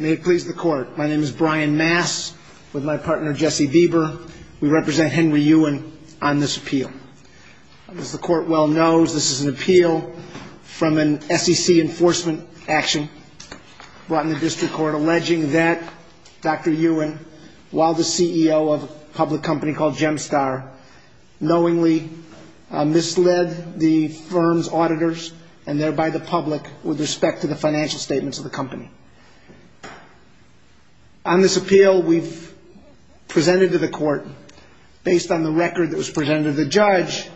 May it please the court. My name is Brian Mass with my partner Jesse Bieber. We represent Henry Yuen on this appeal. As the court well knows, this is an appeal from an SEC enforcement action brought in the district court alleging that Dr. Yuen, while the CEO of a public company called Gemstar, knowingly misled the firm's auditors and thereby the public with respect to the financial statements of the company. On this appeal we've presented to the court, based on the record that was presented to the judge,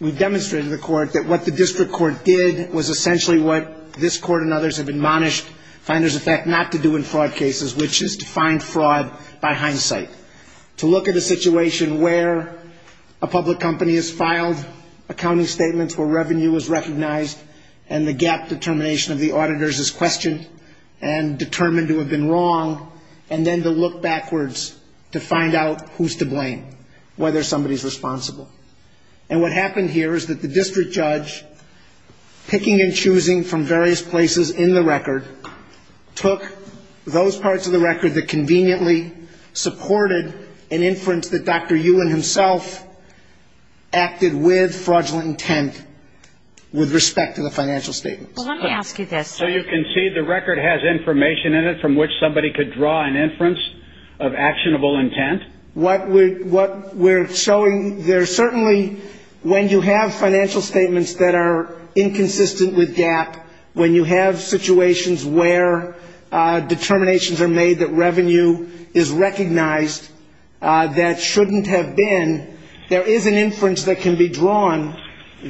we've demonstrated to the court that what the district court did was essentially what this court and others have admonished Finders of Fact not to do in fraud cases, which is to find fraud by hindsight. To look at a situation where a public company has filed accounting statements where revenue is recognized and the gap determination of the auditors is questioned and determined to have been wrong, and then to look backwards to find out who's to blame, whether somebody's responsible. And what happened here is that the district judge, picking and choosing from various places in the record, took those parts of the record that conveniently supported an inference that Dr. Yuen himself acted with fraudulent intent with respect to the financial statements. Well, let me ask you this. So you can see the record has information in it from which somebody could draw an inference of actionable intent? What we're showing, there's certainly, when you have financial statements that are inconsistent with gap, when you have situations where determinations are made that revenue is recognized that shouldn't have been, there is an inference that can be drawn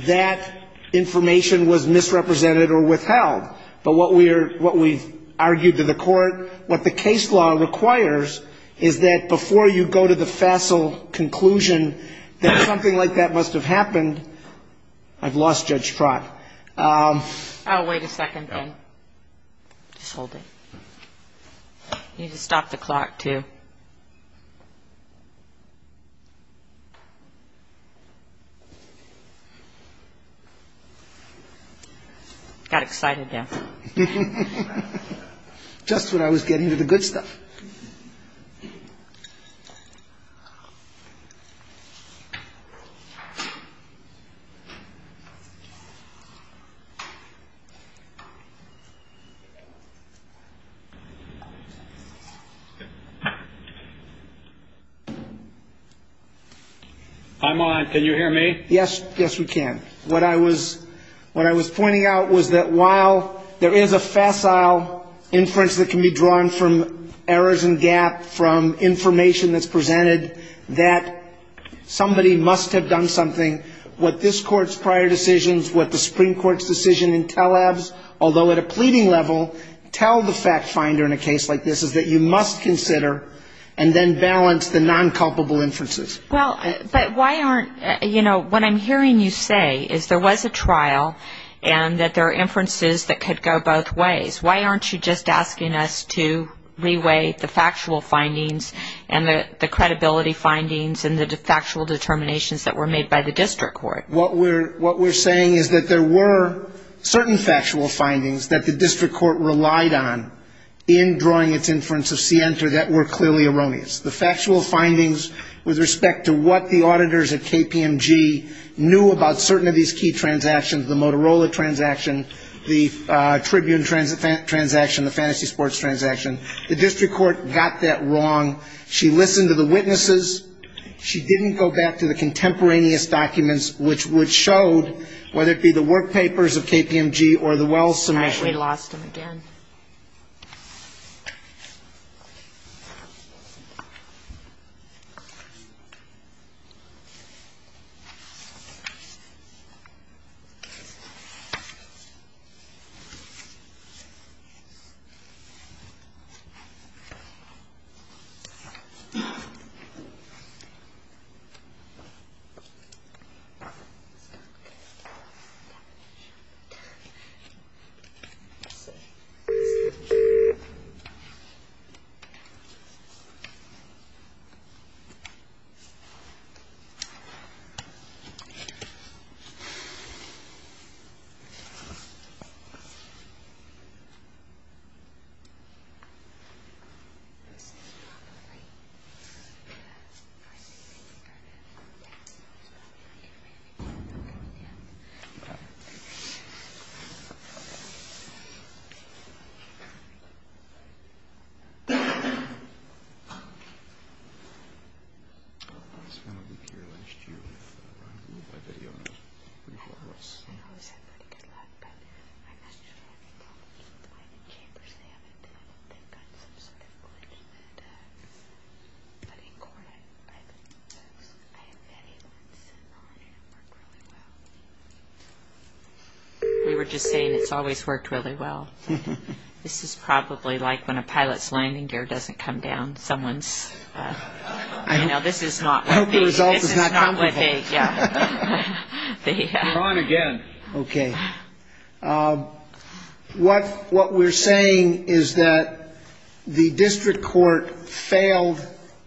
that information was misrepresented or withheld. But what we've argued to the court, what the case law requires is that before you go to the facile conclusion that something like that must have happened, I've lost Judge Trott. Oh, wait a second, Ben. Just hold it. Got excited now. Just when I was getting to the good stuff. I'm on. Can you hear me? Yes. Yes, we can. What I was pointing out was that while there is a facile inference that can be drawn from errors and gap from information that's presented, that somebody must have done something, what this Court's prior decisions, what the Supreme Court's decision in Telebs, although at a pleading level, tell the fact finder in a case like this is that you must consider and then balance the non-culpable inferences. Well, but why aren't, you know, what I'm hearing you say is there was a trial and that there are inferences that could go both ways. Why aren't you just asking us to reweigh the factual findings and the credibility findings and the factual determinations that were made by the district court? What we're saying is that there were certain factual findings that the district court relied on in drawing its inference of Sienta that were clearly erroneous. The factual findings with respect to what the auditors at KPMG knew about certain of these key transactions, the Motorola transaction, the Tribune transaction, the Fantasy Sports transaction, the district court got that wrong. She listened to the witnesses. She didn't go back to the contemporaneous documents which showed whether it be the work papers of KPMG or the Wells submission. We lost him again. So. We were just saying it's always worked well. This is probably like when a pilot's landing gear doesn't come down, someone's, you know, this is not what they, this is not what they, yeah. You're on again. Okay. What we're saying is that the district court failed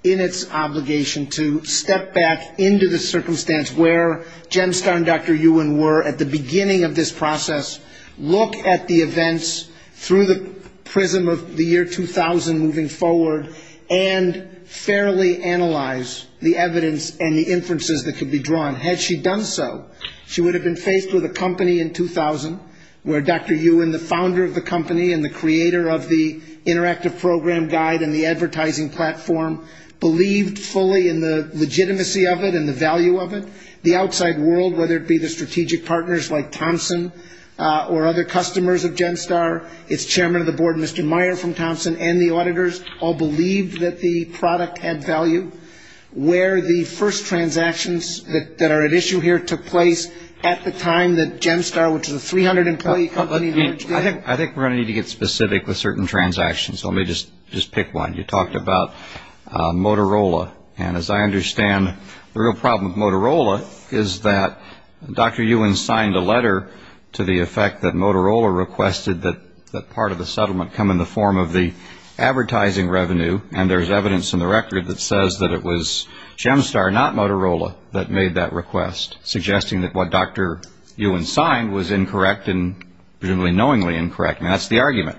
in its obligation to step back into the circumstance where Jemstar and Dr. Ewan were at the beginning of this process, look at the events through the prism of the year 2000 moving forward, and fairly analyze the evidence and the inferences that could be drawn. Had she done so, she would have been faced with a company in 2000 where Dr. Ewan, the founder of the company and the creator of the interactive program guide and the advertising platform, believed fully in the legitimacy of it and the value of it. The outside world, whether it be the strategic partners like Thompson or other customers of Jemstar, its chairman of the board, Mr. Meyer from Thompson, and the auditors all believed that the product had value, where the first transactions that are at issue here took place at the time that Jemstar, which is a 300-employee company. I think we're going to need to get specific with certain transactions. Let me just pick one. You talked about Motorola, and as I understand, the real problem with Motorola is that Dr. Ewan signed a letter to the effect that Motorola requested that part of the settlement come in the form of the advertising revenue, and there's evidence in the record that says that it was Jemstar, not Motorola, that made that request, suggesting that what Dr. Ewan signed was incorrect and presumably knowingly incorrect, and that's the argument.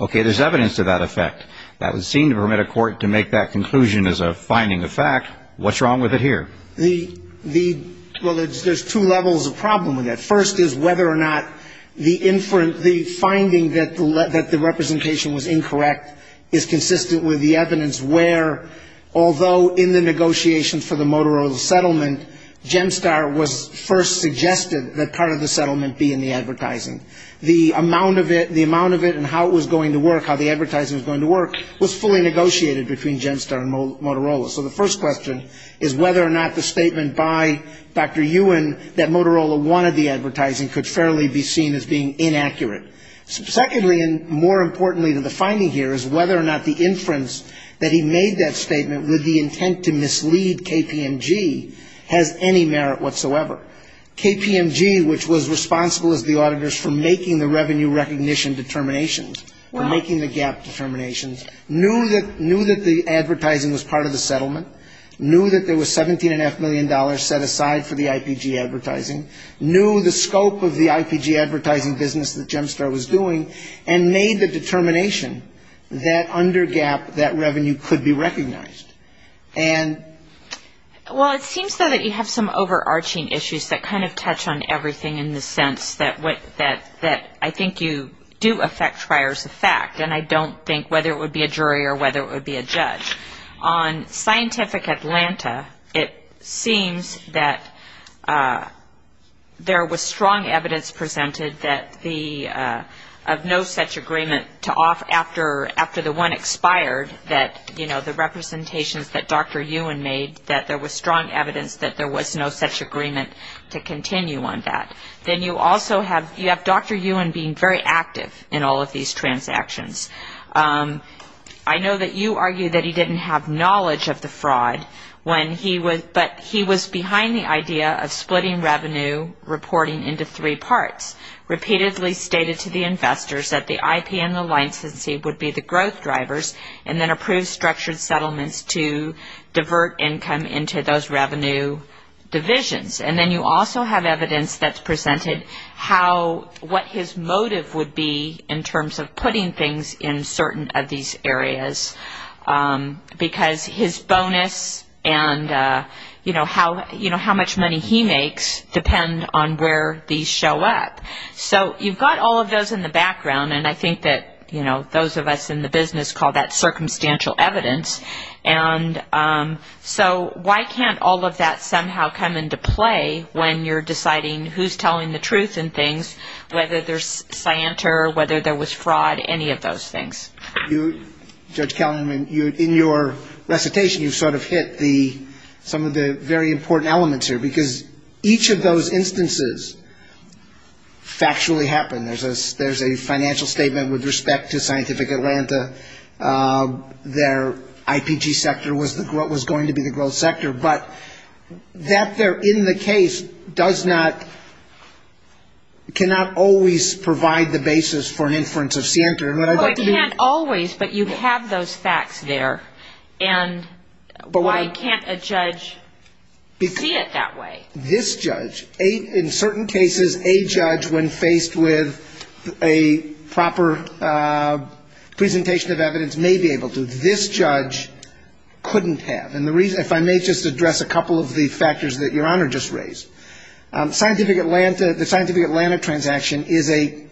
Okay, there's evidence to that effect. That would seem to permit a court to make that conclusion as a finding of fact. What's wrong with it here? Well, there's two levels of problem with that. First is whether or not the finding that the representation was incorrect is consistent with the evidence where, although in the negotiations for the Motorola settlement, Jemstar was first suggested that part of the settlement be in the advertising. The amount of it and how it was going to work, how the advertising was going to work, was fully negotiated between Jemstar and Motorola. So the first question is whether or not the statement by Dr. Ewan that Motorola wanted the advertising could fairly be seen as being inaccurate. Secondly, and more importantly to the finding here, is whether or not the inference that he made that statement was consistent with the evidence. Whether or not the statement with the intent to mislead KPMG has any merit whatsoever. KPMG, which was responsible as the auditors for making the revenue recognition determinations, or making the gap determinations, knew that the advertising was part of the settlement, knew that there was $17.5 million set aside for the IPG advertising, knew the scope of the IPG advertising business that Jemstar was doing, and made the determination that under gap that revenue could be recognized. And so the question is whether or not the statement by Dr. Ewan that Motorola wanted the advertising could be seen as being inaccurate. And so the question is whether or not the statement by Dr. Ewan that Motorola wanted the advertising to be seen as being inaccurate. Well, it seems, though, that you have some overarching issues that kind of touch on everything in the sense that I think you do affect prior to fact. And I don't think whether it would be a jury or whether it would be a judge. On Scientific Atlanta, it seems that there was strong evidence presented that the, of no such agreement to off after the one expired that, you know, the representations that Dr. Ewan made, that there was strong evidence that there was no such agreement to continue on that. Then you also have, you have Dr. Ewan being very active in all of these transactions. I know that you argue that he didn't have knowledge of the fraud when he was, but he was behind the idea of splitting revenue reporting into three parts, repeatedly stated to the investors that the IP and the licensee would be the growth drivers, and then approve structured settlements to divert income into those revenue divisions. And I think that you also presented how, what his motive would be in terms of putting things in certain of these areas, because his bonus and, you know, how much money he makes depend on where these show up. So you've got all of those in the background, and I think that, you know, those of us in the business call that circumstantial evidence. And so why can't all of that somehow come into play when you're deciding who's telling the truth and who's telling the truth? And things, whether there's scienter, whether there was fraud, any of those things. Judge Kellerman, in your recitation, you sort of hit the, some of the very important elements here, because each of those instances factually happened. There's a financial statement with respect to Scientific Atlanta. Their IPG sector was going to be the growth sector. But that there in the case does not, cannot always provide the basis for an inference of scienter. And what I'd like to do is... Well, it can't always, but you have those facts there. And why can't a judge see it that way? This judge, in certain cases, a judge, when faced with a proper presentation of evidence, may be able to. This judge couldn't have. And the reason, if I may just address a couple of the factors that Your Honor just raised. Scientific Atlanta, the Scientific Atlanta transaction is a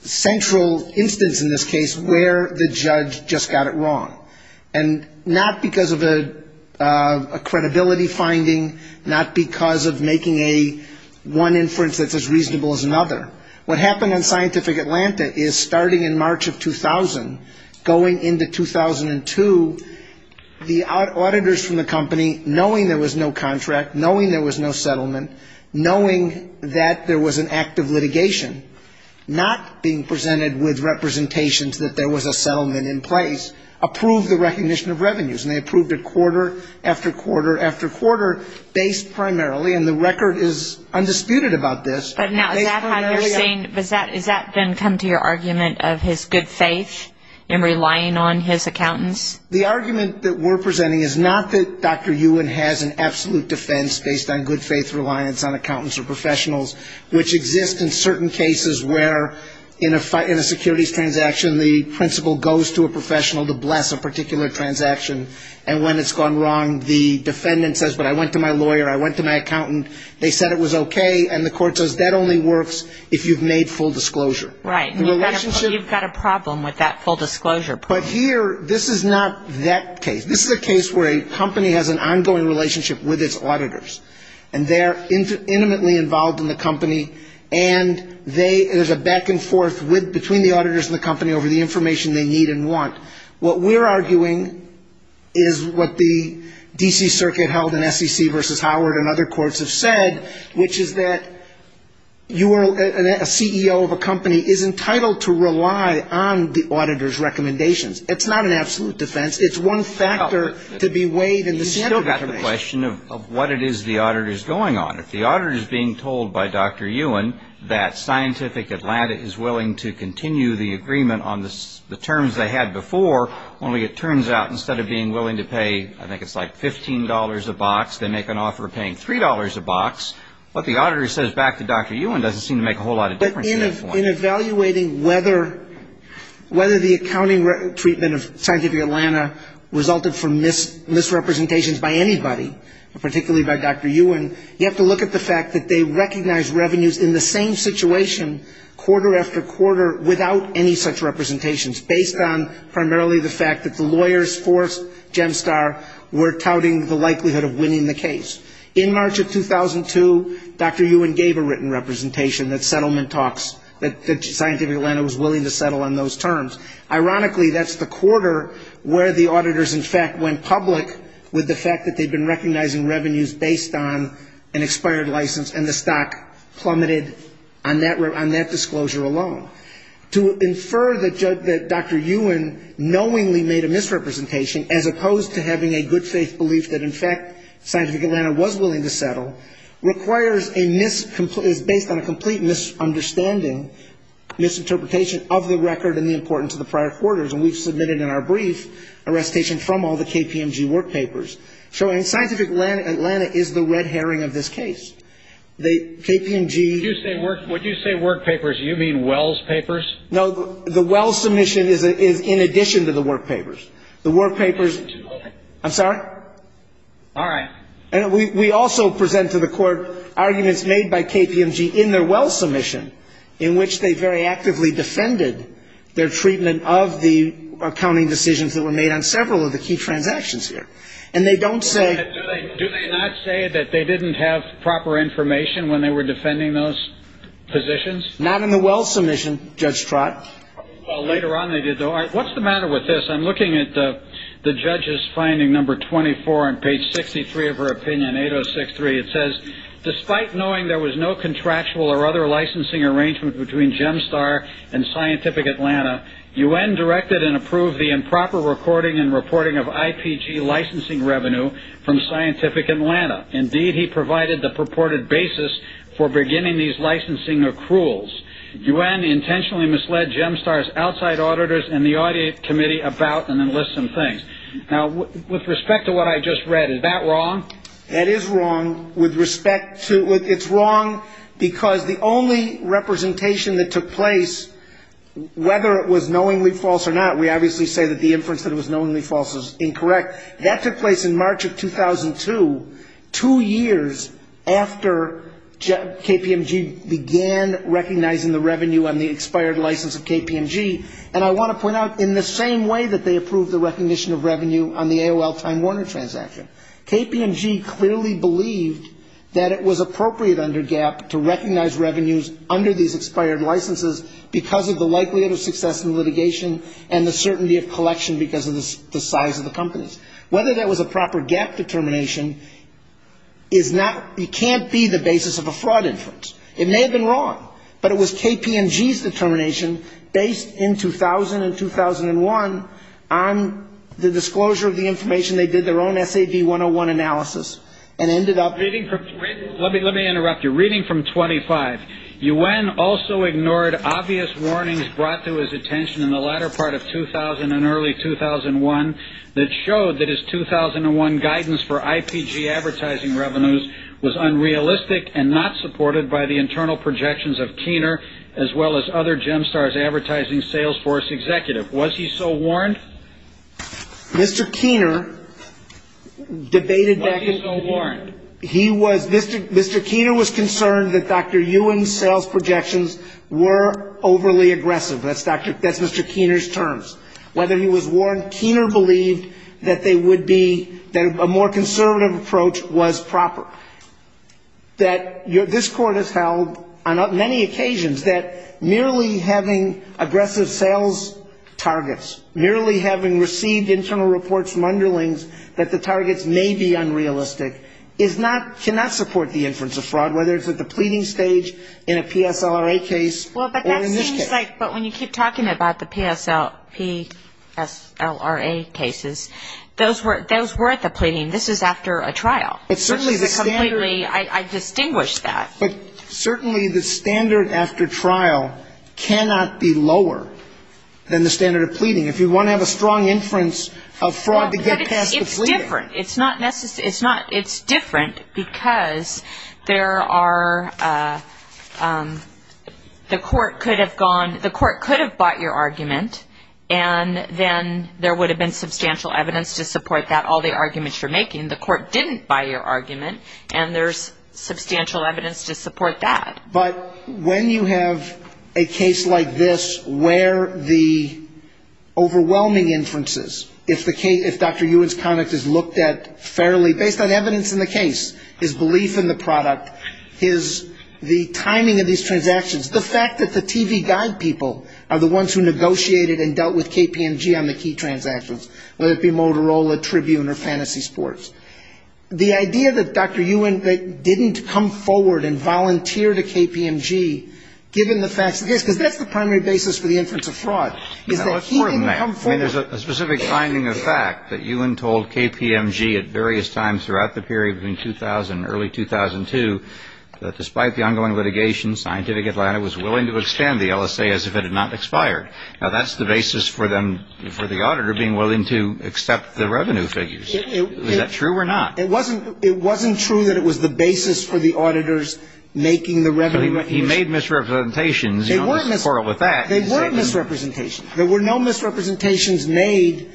central instance in this case where the judge just got it wrong. And not because of a credibility finding, not because of making a one inference that's as reasonable as another. What happened in Scientific Atlanta is starting in March of 2000, going into 2002, the auditors from the company, knowing there was no contract, knowing there was no settlement, knowing that there was an act of litigation, not being presented with representations that there was a settlement in place, approved the recognition of revenues. And they approved it quarter after quarter after quarter, based primarily, and the record is undisputed about this. But now, is that how you're saying, does that then come to your argument of his good faith in relying on his accountants? The argument that we're presenting is not that Dr. Ewan has an absolute defense based on good faith reliance on accountants or professionals, which exists in certain cases where in a securities transaction, the principal goes to a professional to bless a particular transaction, and when it's gone wrong, the defendant says, but I went to my lawyer, I went to my accountant, they said it was okay, and the court says that only works if you've made full disclosure. Right. You've got a problem with that full disclosure. But here, this is not that case. This is a case where a company has an ongoing relationship with its auditors, and they're intimately involved in the company, and there's a back and forth between the auditors and the company over the information they need and want. What we're arguing is what the D.C. Circuit held in SEC v. Howard and other courts have said. Which is that a CEO of a company is entitled to rely on the auditor's recommendations. It's not an absolute defense. It's one factor to be weighed in the standard. You've still got the question of what it is the auditor is going on. If the auditor is being told by Dr. Ewan that Scientific Atlanta is willing to continue the agreement on the terms they had before, only it turns out instead of being willing to pay, I don't know if that's the case. But in evaluating whether the accounting treatment of Scientific Atlanta resulted from misrepresentations by anybody, particularly by Dr. Ewan, you have to look at the fact that they recognized revenues in the same situation, quarter after quarter, without any such representations, based on primarily the fact that the lawyers for Gemstar were touting the likelihood of winning the case. In March of 2002, Dr. Ewan gave a written representation that Settlement Talks, that Scientific Atlanta was willing to settle on those terms. Ironically, that's the quarter where the auditors in fact went public with the fact that they'd been recognizing revenues based on an expired license and the stock plummeted on that disclosure alone. To infer that Dr. Ewan knowingly made a misrepresentation, as opposed to having a good-faith belief that in fact Scientific Atlanta was willing to settle, is based on a complete misunderstanding, misinterpretation of the record and the importance of the prior quarters, and we've submitted in our brief a recitation from all the KPMG workpapers, showing Scientific Atlanta is the red herring of this case. The KPMG... We also present to the court arguments made by KPMG in their Wells submission, in which they very actively defended their treatment of the accounting decisions that were made on several of the key transactions here. And they don't say... Do they not say that they didn't have proper information when they were defending those positions? Not in the Wells submission, Judge Trott. Well, later on they did, though. All right, what's the matter with this? I'm looking at the judge's finding number 24 on page 63 of her opinion, 8063. It says... Now, with respect to what I just read, is that wrong? That is wrong, with respect to... It's wrong because the only representation that took place, whether it was knowingly false or not, we obviously say that the inference that it was knowingly false is incorrect, that took place in March of 2002, two years after KPMG began recognizing the revenue on the expired license of KPMG. And I want to point out, in the same way that they approved the recognition of revenue on the AOL Time Warner transaction, KPMG clearly believed that it was appropriate under GAAP to recognize revenues under these expired licenses because of the likelihood of success in litigation and the certainty of collection because of the size of the companies. Whether that was a proper GAAP determination is not, it can't be the basis of a fraud inference. It may have been wrong, but it was KPMG's determination, based in 2000 and 2001, on the disclosure of the information they did their own SAB 101 analysis and ended up... Let me interrupt you. Reading from 25. UN also ignored obvious warnings brought to his attention in the latter part of 2000 and early 2001 that showed that his 2001 guidance for IPG advertising revenues was unrealistic and not supported by the internal projections of Keener, as well as other Gemstar's advertising sales force executive. Was he so warned? Mr. Keener debated that... Whether he was warned, Keener believed that they would be, that a more conservative approach was proper. That this Court has held, on many occasions, that merely having aggressive sales targets, merely having received internal reports from underlings that the targets may be unrealistic, is not, cannot support the inference of fraud, whether it's at the pleading stage, whether it's at the pleading stage, whether it's in a PSLRA case, or in this case. Well, but that seems like, but when you keep talking about the PSLRA cases, those were at the pleading. This is after a trial. Which is a completely, I distinguish that. But certainly the standard after trial cannot be lower than the standard of pleading. If you want to have a strong inference of fraud to get past the pleading. Well, but it's different. It's not necessary, it's not, it's different because there are, there are, there are, there are, there are cases where the Court could have gone, the Court could have bought your argument, and then there would have been substantial evidence to support that, all the arguments you're making. The Court didn't buy your argument, and there's substantial evidence to support that. But when you have a case like this, where the overwhelming inferences, if the case, if Dr. Ewan's conduct is looked at fairly, based on the fact that the TV guide people are the ones who negotiated and dealt with KPMG on the key transactions, whether it be Motorola, Tribune, or Fantasy Sports. The idea that Dr. Ewan didn't come forward and volunteer to KPMG, given the facts of this, because that's the primary basis for the inference of fraud, is that he didn't come forward. I mean, there's a specific finding of fact that Ewan told KPMG at various times throughout the period between 2000 and early 2002, that despite the ongoing litigation, Scientific Atlanta was willing to extend the LSA as if it had not expired. Now, that's the basis for them, for the auditor, being willing to accept the revenue figures. Is that true or not? It wasn't, it wasn't true that it was the basis for the auditors making the revenue figures. But he made misrepresentations. You don't have to quarrel with that. They weren't misrepresentations. There were no misrepresentations made.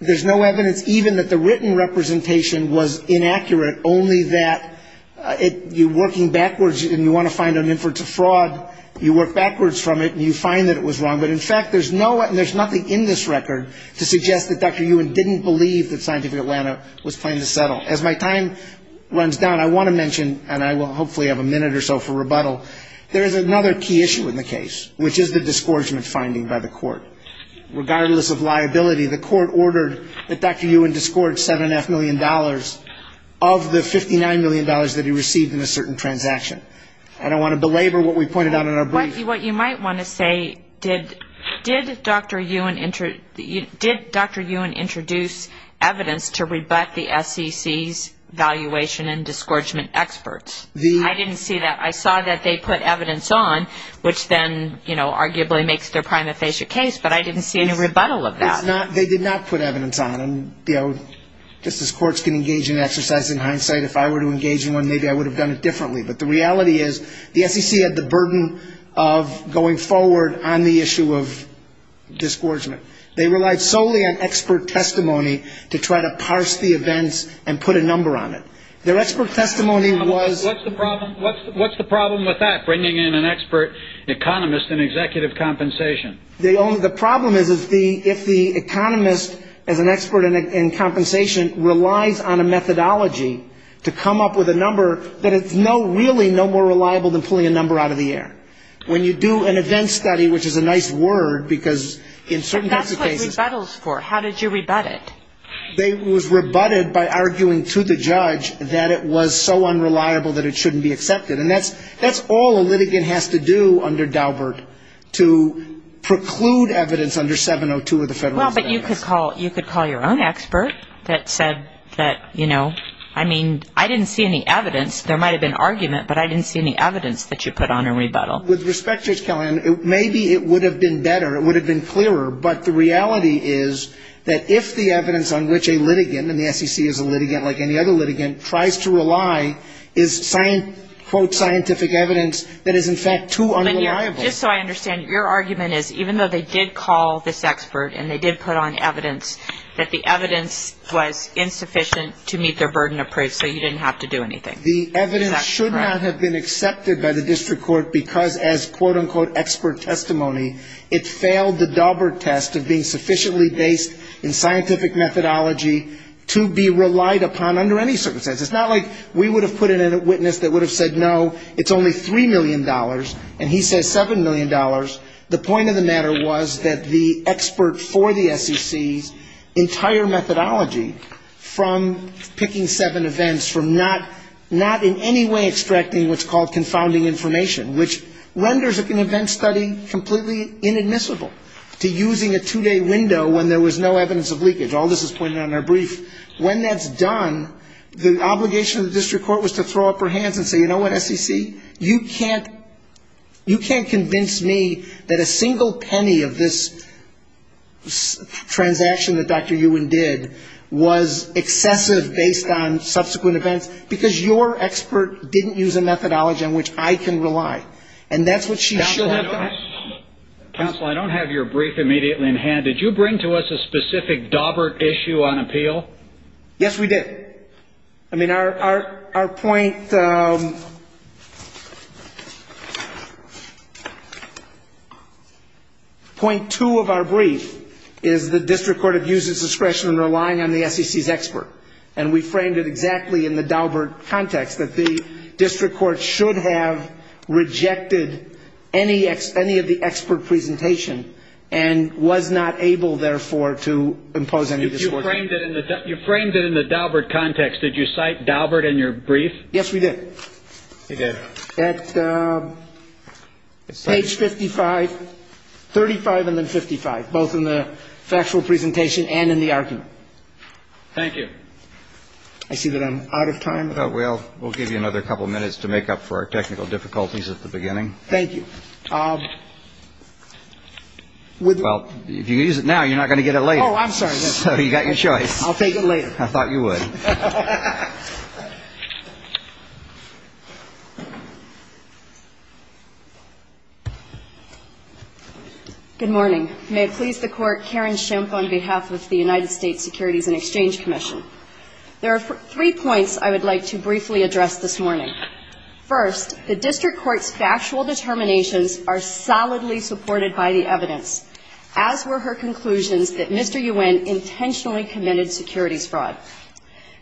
There's no evidence even that the written representation was inaccurate, only that you're trying to find an inference of fraud, you work backwards from it, and you find that it was wrong. But in fact, there's no one, there's nothing in this record to suggest that Dr. Ewan didn't believe that Scientific Atlanta was planning to settle. As my time runs down, I want to mention, and I will hopefully have a minute or so for rebuttal, there is another key issue in the case, which is the disgorgement finding by the court. Regardless of liability, the court ordered that Dr. Ewan disgorge $7.5 million of the $59 million that he received in a certain transaction. I don't want to belabor what we pointed out in our brief. What you might want to say, did Dr. Ewan introduce evidence to rebut the SEC's valuation and disgorgement experts? I didn't see that. I saw that they put evidence on, which then arguably makes their prima facie case, but I didn't see any rebuttal of that. They did not put evidence on. Just as courts can engage in exercise in hindsight, if I were to engage in one, maybe I would have done it differently, but the reality is, the SEC had the burden of going forward on the issue of disgorgement. They relied solely on expert testimony to try to parse the events and put a number on it. Their expert testimony was... What's the problem with that, bringing in an expert economist in executive compensation? The problem is, if the economist is an expert in compensation, relies on a methodology to come up with a number that it's no good to use, it's really no more reliable than pulling a number out of the air. When you do an event study, which is a nice word, because in certain types of cases... But that's what rebuttal is for. How did you rebut it? It was rebutted by arguing to the judge that it was so unreliable that it shouldn't be accepted. And that's all a litigant has to do under Daubert, to preclude evidence under 702 of the federal standards. Well, but you could call your own expert that said that, you know, I mean, I didn't see any evidence. There might have been arguments, but I didn't see any evidence that you put on a rebuttal. With respect, Judge Kelley, maybe it would have been better, it would have been clearer, but the reality is that if the evidence on which a litigant, and the SEC is a litigant, like any other litigant, tries to rely, is, quote, scientific evidence that is, in fact, too unreliable. Just so I understand, your argument is, even though they did call this expert and they did put on evidence, that the evidence was insufficient to meet their burden of proof, so you didn't have to do anything? The evidence should not have been accepted by the district court, because as, quote, unquote, expert testimony, it failed the Daubert test of being sufficiently based in scientific methodology to be relied upon under any circumstances. It's not like we would have put in a witness that would have said, no, it's only $3 million, and he says $7 million. The point of the matter was that the expert for the SEC's entire methodology, from picking seven events, from not knowing the evidence, was not going to be able to do anything. Not in any way extracting what's called confounding information, which renders an event study completely inadmissible, to using a two-day window when there was no evidence of leakage. All this is pointed out in our brief. When that's done, the obligation of the district court was to throw up her hands and say, you know what, SEC, you can't convince me that a single penny of this transaction that Dr. Ewan did was excessive based on subsequent events, because you're a litigant. Your expert didn't use a methodology on which I can rely. And that's what she should have done. Counsel, I don't have your brief immediately in hand. Did you bring to us a specific Daubert issue on appeal? Yes, we did. I mean, our point, point two of our brief is the district court abused its discretion in relying on the SEC's expert, and we framed it exactly in the Daubert context. The district court should have rejected any of the expert presentation and was not able, therefore, to impose any discretion. You framed it in the Daubert context. Did you cite Daubert in your brief? Yes, we did. Page 55, 35 and then 55, both in the factual presentation and in the argument. Thank you. I see that I'm out of time. Well, we'll give you another couple of minutes to make up for our technical difficulties at the beginning. Thank you. Well, if you use it now, you're not going to get it later. Oh, I'm sorry. So you got your choice. I'll take it later. I thought you would. Good morning. May it please the Court, Karen Schimpf on behalf of the United States Securities and Exchange Commission. There are three points I would like to briefly address this morning. First, the district court's factual determinations are solidly supported by the evidence, as were her conclusions that Mr. Yuen intentionally committed securities fraud.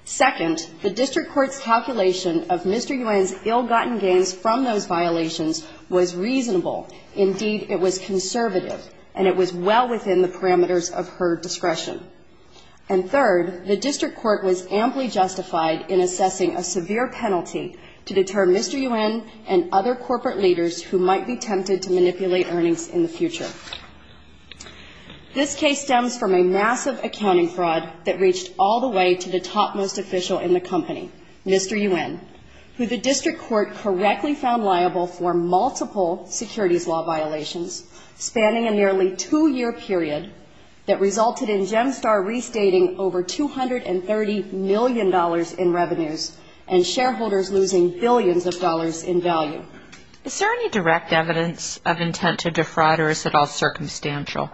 Second, the district court's calculation of Mr. Yuen's ill-gotten gains from those violations was reasonable. Indeed, it was conservative, and it was well within the parameters of her discretion. And third, the district court was amply justified in assessing a severe penalty to deter Mr. Yuen and other corporate leaders who might be tempted to manipulate earnings in the future. This case stems from a massive accounting fraud that reached all the way to the topmost official in the company, Mr. Yuen, who the district court correctly found liable for multiple securities law violations, spanning a nearly two-year period that resulted in Gemstar restating over $230 million in revenues and shareholders losing billions of dollars in value. Is there any direct evidence of intent to defraud, or is it all circumstantial?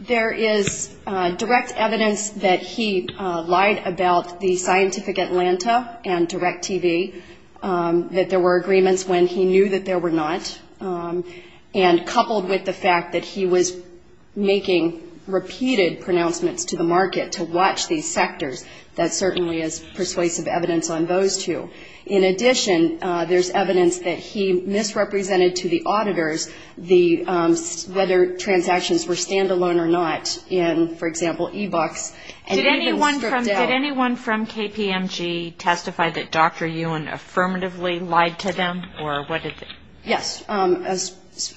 There is direct evidence that he lied about the Scientific Atlanta and DirecTV, that there were agreements when he knew that there were not, and coupled with the fact that he was making repeated pronouncements to the market to watch these sectors, that certainly is persuasive evidence on those two. In addition, there's evidence that he misrepresented to the auditors whether transactions were stand-alone or not in, for example, e-books, and even stripped down. Did anyone from KPMG testify that Dr. Yuen affirmatively lied to them? Yes,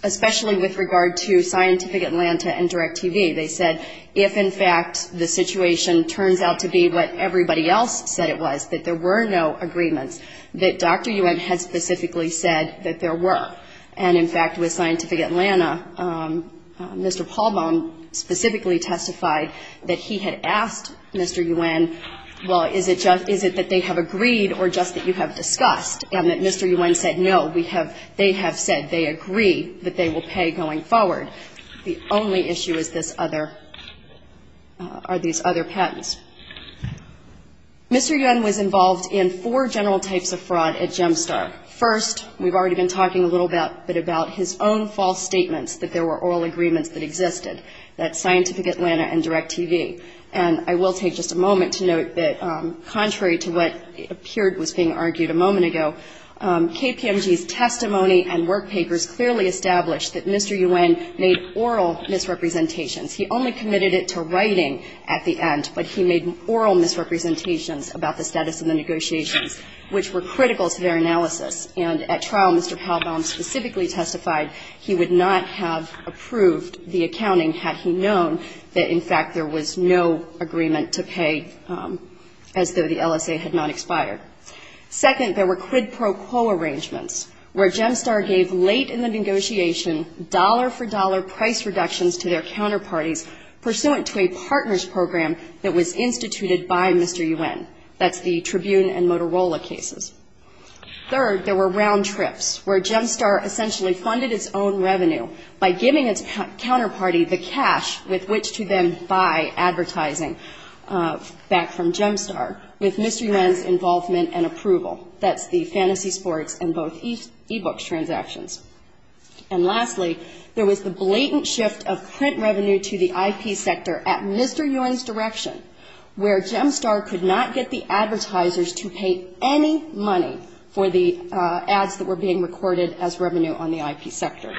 especially with regard to Scientific Atlanta and DirecTV. They said if, in fact, the situation turns out to be what everybody else said it was, that there were no agreements. That Dr. Yuen had specifically said that there were. And, in fact, with Scientific Atlanta, Mr. Paulbaum specifically testified that he had asked Mr. Yuen, well, is it that they have agreed or just that you have discussed, and that Mr. Yuen said, no, they have said they agree that they will pay going forward. The only issue is these other patents. Mr. Yuen was involved in four general types of fraud at Gemstar. First, we've already been talking a little bit about his own false statements that there were oral agreements that existed, that Scientific Atlanta and DirecTV. And I will take just a moment to note that, contrary to what appeared was being argued a moment ago, KPMG's testimony and work papers clearly established that Mr. Yuen made oral misrepresentations. He only committed it to writing at the end, but he made oral misrepresentations about the status of the negotiations, which were critical to their analysis. And at trial, Mr. Paulbaum specifically testified he would not have approved the accounting had he known that, in fact, there was no agreement to pay as though the LSA had not expired. Second, there were quid pro quo arrangements, where Gemstar gave late in the negotiation dollar-for-dollar price reductions to their counterparts, and the LSA did not. Third, there were round trips, where Gemstar essentially funded its own revenue by giving its counterparty the cash with which to then buy advertising back from Gemstar, with Mr. Yuen's involvement and approval. That's the Fantasy Sports and both e-books transactions. And lastly, there was the blatant shift of print revenue to the IP sector at Mr. Yuen's direction, where Gemstar could not get the advertisers to pay any money for the ads that were being recorded as revenue on the IP sector.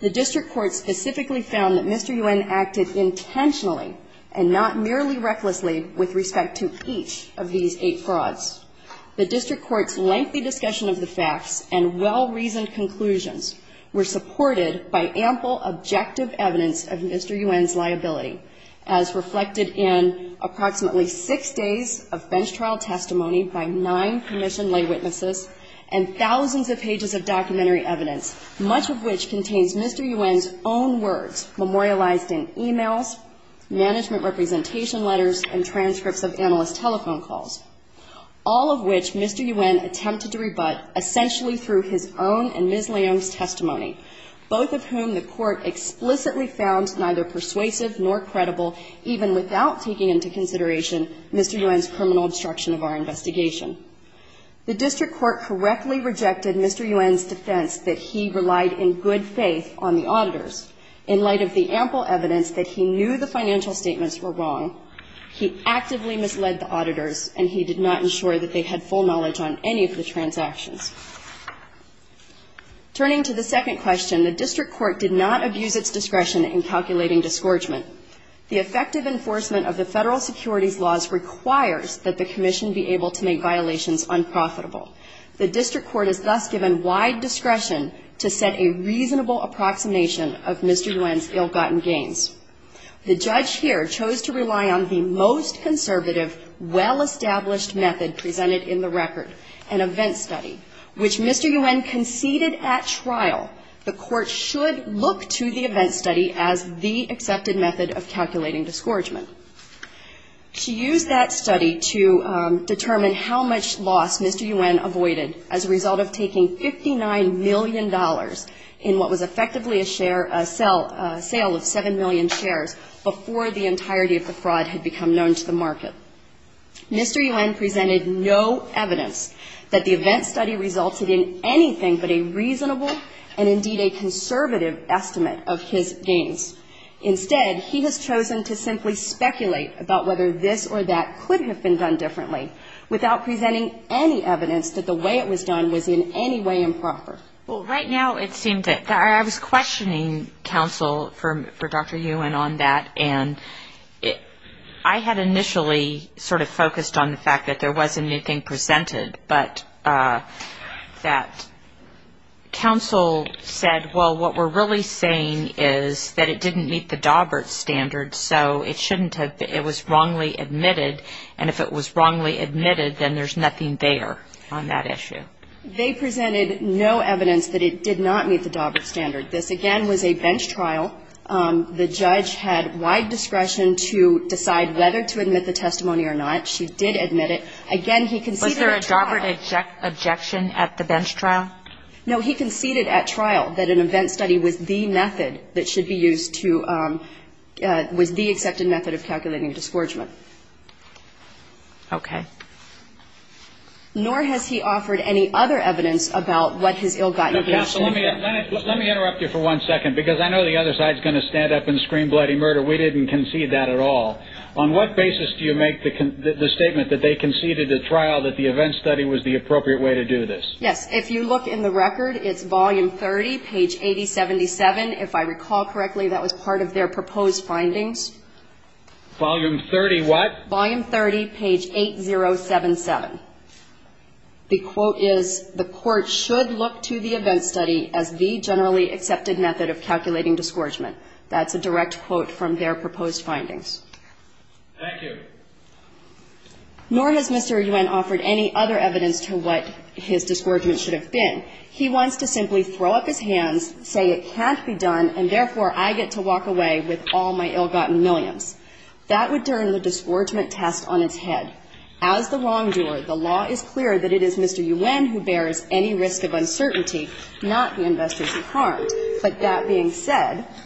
The district court specifically found that Mr. Yuen acted intentionally and not merely recklessly with respect to each of these eight frauds. The district court's lengthy discussion of the facts and well-reasoned conclusions were supported by ample objective evidence of Mr. Yuen's liability, as reflected in approximately six days of bench trial testimony by nine permissioned lay witnesses and thousands of pages of documentary evidence, much of which contains Mr. Yuen's own words memorialized in e-mails, management representation letters, and transcripts of analyst telephone calls. All of which Mr. Yuen attempted to rebut essentially through his own and Ms. Leung's testimony, both of whom the court explicitly found neither persuasive nor credible, even without taking into consideration Mr. Yuen's criminal obstruction of our investigation. The district court correctly rejected Mr. Yuen's defense that he relied in good faith on the auditors, in light of the ample evidence that he knew the case, and he did not ensure that they had full knowledge on any of the transactions. Turning to the second question, the district court did not abuse its discretion in calculating disgorgement. The effective enforcement of the federal securities laws requires that the commission be able to make violations unprofitable. The district court is thus given wide discretion to set a reasonable approximation of Mr. Yuen's ill-gotten gains. The judge here chose to rely on the most conservative, well-established method presented in the record, an event study, which Mr. Yuen conceded at trial. The court should look to the event study as the accepted method of calculating disgorgement. She used that study to determine how much loss Mr. Yuen avoided as a result of taking $59 million in what was effectively a share, a sale of 7 million shares before the entirety of the fraud had become known to the market. Mr. Yuen presented no evidence that the event study resulted in anything but a reasonable and indeed a conservative estimate of his gains. Instead, he has chosen to simply speculate about whether this or that could have been done differently, without presenting any evidence that the way it was done was in any way improper. Well, right now it seems that I was questioning counsel for Dr. Yuen on that, and I had initially sort of focused on the fact that I thought that there was a new thing presented, but that counsel said, well, what we're really saying is that it didn't meet the Daubert standard, so it shouldn't have been. It was wrongly admitted, and if it was wrongly admitted, then there's nothing there on that issue. They presented no evidence that it did not meet the Daubert standard. This, again, was a bench trial. The judge had wide discretion to decide whether to admit the testimony or not. She did admit it. Again, he conceded at trial. Was there a Daubert objection at the bench trial? No. He conceded at trial that an event study was the method that should be used to – was the accepted method of calculating disgorgement. Okay. Nor has he offered any other evidence about what his ill-gotten gains should have been. Okay. So let me interrupt you for one second, because I know the other side's going to stand up and scream bloody murder. We didn't concede that at all. On what basis do you make the statement that they conceded at trial that the event study was the appropriate way to do this? Yes. If you look in the record, it's volume 30, page 8077. If I recall correctly, that was part of their proposed findings. Volume 30 what? Volume 30, page 8077. The quote is, the Court should look to the event study as the generally accepted method of calculating disgorgement. That's a direct quote from their proposed findings. Thank you. Nor has Mr. Yuen offered any other evidence to what his disgorgement should have been. He wants to simply throw up his hands, say it can't be done, and sink a boat into the water, and end up on the underwater side of the ocean, and be no different than Stan Ankomis or the anonymous των, Bill Williams. That would turn the disgorgement test on its head. As the wrongdoer, the law is clear that it is Mr. Yuen who bears any risk of uncertainty, not the investors who harmed. But that being said --"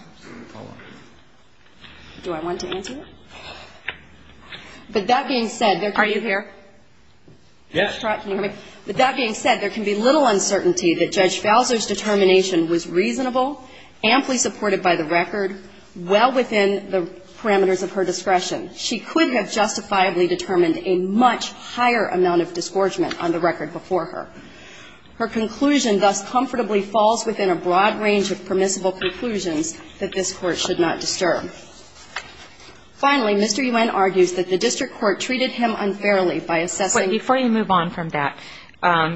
of her discretion. She could have justifiably determined a much higher amount of disgorgement on the record before her. Her conclusion thus comfortably falls within a broad range of permissible conclusions that this Court should not disturb. Finally, Mr. Yuen argues that the District Court treated him unfairly by assessing --" Wait, before you move on from that,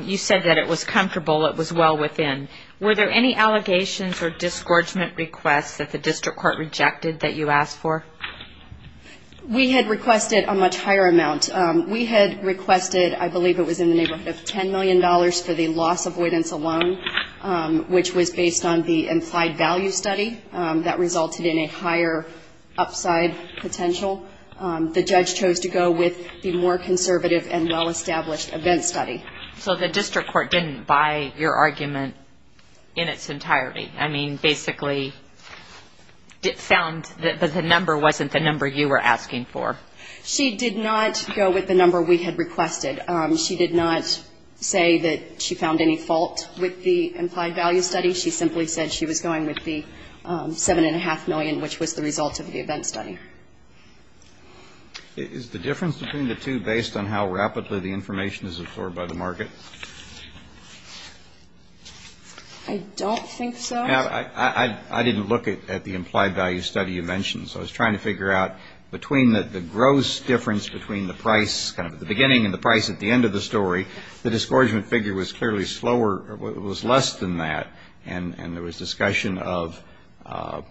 you said that it was comfortable, it was well within. Were there any allegations or disgorgement requests that the District Court should have made? We had requested a much higher amount. We had requested, I believe it was in the neighborhood of $10 million for the loss avoidance alone, which was based on the implied value study. That resulted in a higher upside potential. The judge chose to go with the more conservative and well-established event study. So the District Court didn't buy your argument in its entirety? I mean, basically, it found that the number wasn't that high. It wasn't the number you were asking for. She did not go with the number we had requested. She did not say that she found any fault with the implied value study. She simply said she was going with the $7.5 million, which was the result of the event study. Is the difference between the two based on how rapidly the information is absorbed by the market? I don't think so. I didn't look at the implied value study you mentioned, so I was trying to figure out between the gross difference between the price, kind of the beginning and the price at the end of the story, the disgorgement figure was clearly slower, was less than that, and there was discussion of, I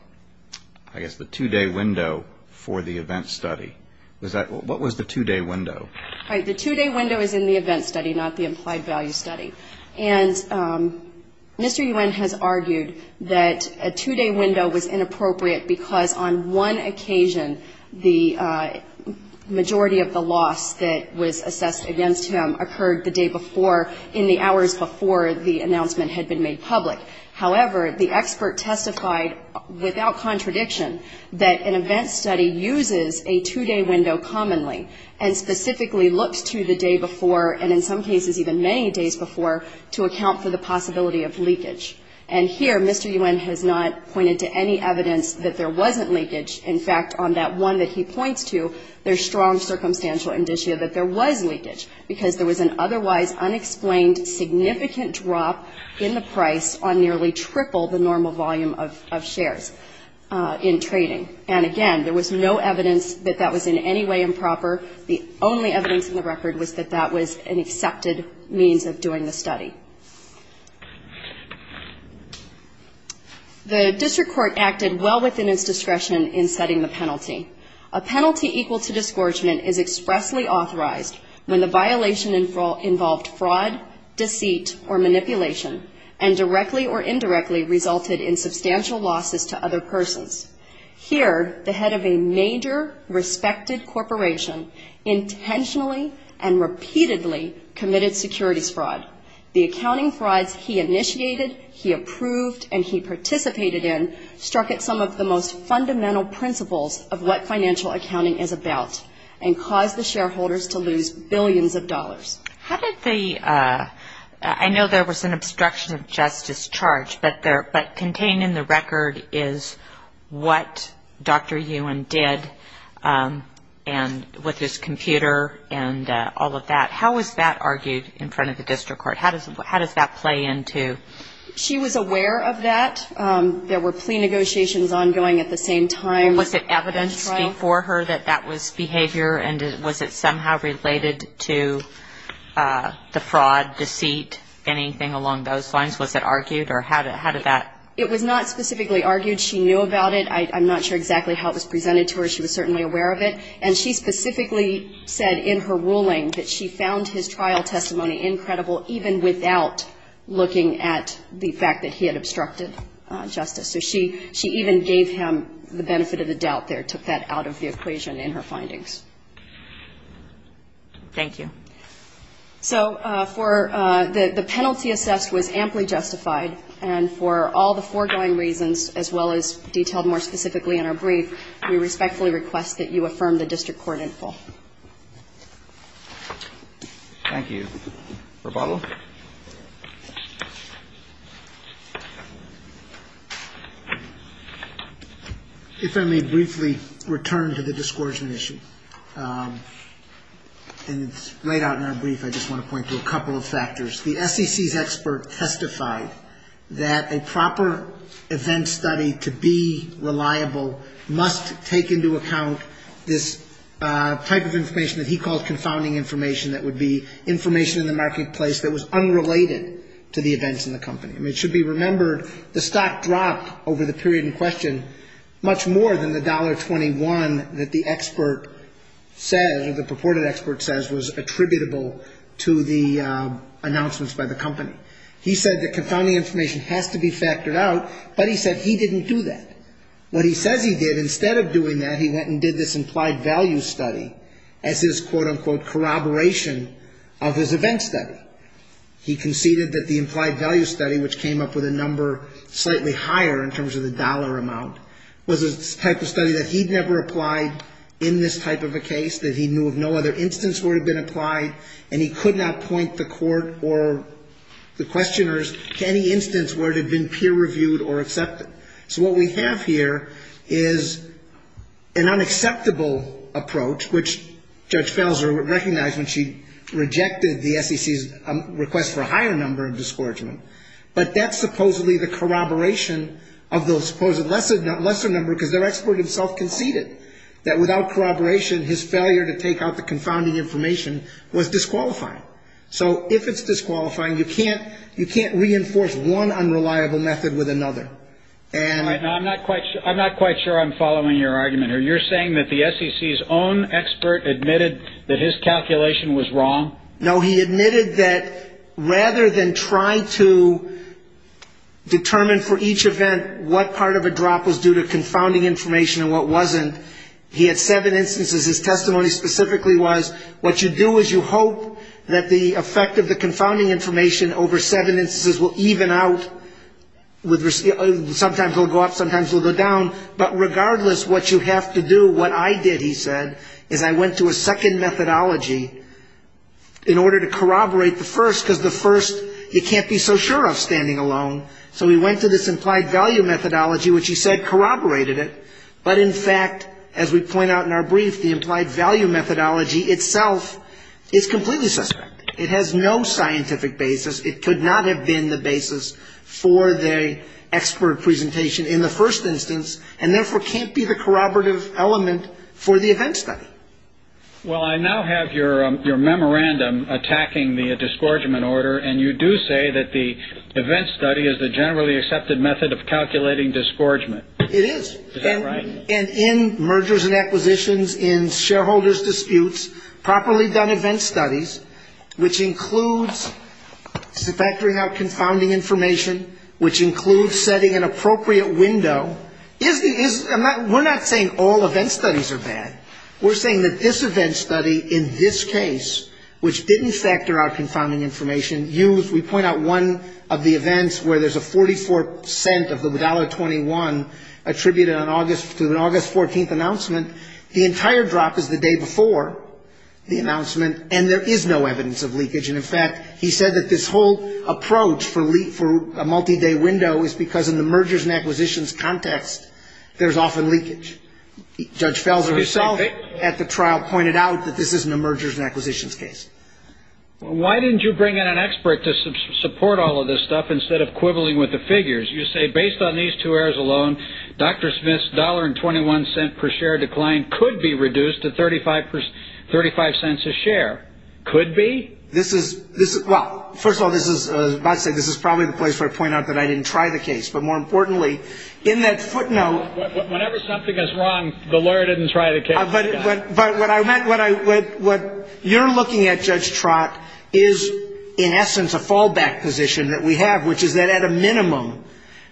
guess, the two-day window for the event study. What was the two-day window? The two-day window is in the event study, not the implied value study. And Mr. Yuen has argued that the two-day window is in the event study, that a two-day window was inappropriate because on one occasion, the majority of the loss that was assessed against him occurred the day before, in the hours before the announcement had been made public. However, the expert testified without contradiction that an event study uses a two-day window commonly, and specifically looks to the day before, and in some cases even many days before, to assess the loss. Mr. Yuen has not pointed to any evidence that there wasn't leakage. In fact, on that one that he points to, there's strong circumstantial indicia that there was leakage, because there was an otherwise unexplained significant drop in the price on nearly triple the normal volume of shares in trading. And again, there was no evidence that that was in any way improper. The only evidence in the record was that that was an accepted means of doing the study. The district court acted well within its discretion in setting the penalty. A penalty equal to disgorgement is expressly authorized when the violation involved fraud, deceit, or manipulation, and directly or indirectly resulted in substantial losses to other persons. Here, the head of a major respected corporation intentionally and repeatedly committed securities fraud. The accounting frauds he participated in struck at some of the most fundamental principles of what financial accounting is about, and caused the shareholders to lose billions of dollars. I know there was an obstruction of justice charge, but contained in the record is what Dr. Yuen did with his computer and all of that. How was that argued in front of the district court? How does that play into? There were plea negotiations ongoing at the same time. Was it evidence before her that that was behavior, and was it somehow related to the fraud, deceit, anything along those lines? Was it argued, or how did that? It was not specifically argued. She knew about it. I'm not sure exactly how it was presented to her. She was certainly aware of it. And she specifically said in her ruling that she found his trial testimony incredible, even without looking at the fact that he had obstructed justice. So she even gave him the benefit of the doubt there, took that out of the equation in her findings. Thank you. So for the penalty assessed was amply justified, and for all the foregoing reasons, as well as detailed more specifically in our brief, we will leave that to the district court in full. Thank you. Roboto? If I may briefly return to the discouragement issue, and it's laid out in our brief, I just want to point to a couple of factors. The SEC's expert testified that a proper event study to be reliable must take into account this discouragement of the defendant's testimony. He said there was a type of information that he called confounding information, that would be information in the marketplace that was unrelated to the events in the company. It should be remembered, the stock dropped over the period in question much more than the $1.21 that the expert said, or the purported expert says, was attributable to the announcements by the company. He said that confounding information has to be taken into account. He also said that he considered the implied value study as his quote-unquote corroboration of his event study. He conceded that the implied value study, which came up with a number slightly higher in terms of the dollar amount, was a type of study that he'd never applied in this type of a case, that he knew of no other instance where it had been applied, and he could not point the court or the questioners to any instance where it had been peer reviewed or accepted. So that's a disqualifying approach, which Judge Felser recognized when she rejected the SEC's request for a higher number of discouragement, but that's supposedly the corroboration of those supposed lesser number, because their expert himself conceded that without corroboration, his failure to take out the confounding information was disqualifying. So if it's disqualifying, you can't reinforce one instance. He admitted that rather than try to determine for each event what part of a drop was due to confounding information and what wasn't, he had seven instances. His testimony specifically was, what you do is you hope that the effect of the confounding information over seven instances will even out. Sometimes it will go up, sometimes it will go down. But regardless, what you have to do, what I did, he said, was I went to a second methodology in order to corroborate the first, because the first you can't be so sure of standing alone. So we went to this implied value methodology, which he said corroborated it, but in fact, as we point out in our brief, the implied value methodology itself is completely suspect. It has no scientific basis. It could not have been the basis for the expert presentation in the first instance, and therefore can't be the corroborative element for the event. Well, I now have your memorandum attacking the disgorgement order, and you do say that the event study is the generally accepted method of calculating disgorgement. It is. And in mergers and acquisitions, in shareholders' disputes, properly done event studies, which includes factoring out confounding information, which includes setting an appropriate window, we're not saying all event studies are bad. We're saying that this event study in this case, which didn't factor out confounding information, used, we point out one of the events where there's a 44% of the $1.21 attributed to an August 14th announcement. The entire drop is the day before the announcement, and there is no evidence of leakage. And in fact, he said that this whole approach for a multi-day window is because in the mergers and acquisitions context, there's often leakage. Judge Felser himself said that. At the trial, pointed out that this isn't a mergers and acquisitions case. Why didn't you bring in an expert to support all of this stuff instead of quibbling with the figures? You say based on these two errors alone, Dr. Smith's $1.21 per share decline could be reduced to 35 cents a share. Could be? This is, well, first of all, this is, as Bob said, this is probably the place where I point out that I didn't try the case. But more importantly, in that footnote... Whenever something is wrong, the lawyer didn't try the case. But what you're looking at, Judge Trott, is in essence a fallback position that we have, which is that at a minimum,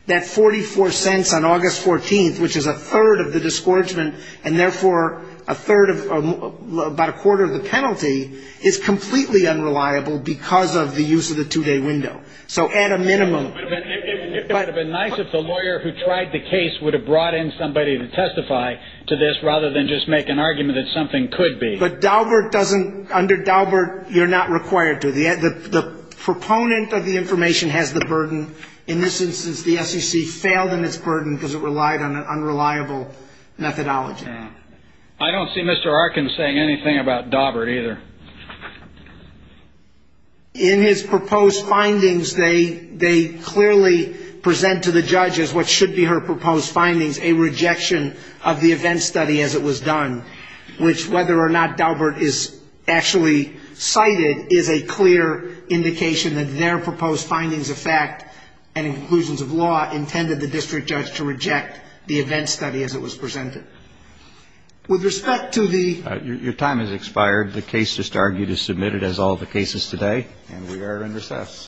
that 44 cents on August 14th, which is a third of the disgorgement, and therefore a third of, about a quarter of the penalty, is completely unreliable because of the use of the two-day window. So at a minimum... It would have been nice if the lawyer who tried the case would have brought in somebody to testify to this rather than just make an argument that something could be. But Daubert doesn't, under Daubert, you're not required to. The proponent of the information has the burden. In this instance, the SEC failed in its burden because it relied on an unreliable methodology. I don't see Mr. Arkin saying anything about Daubert either. In his proposed findings, they clearly present to the judge as what should be her proposed findings, a rejection of the event study as it was done, which, whether or not Daubert is actually cited, is a clear indication that their proposed findings of fact and conclusions of law intended the district judge to reject the event study as it was presented. With respect to the... Your time has expired.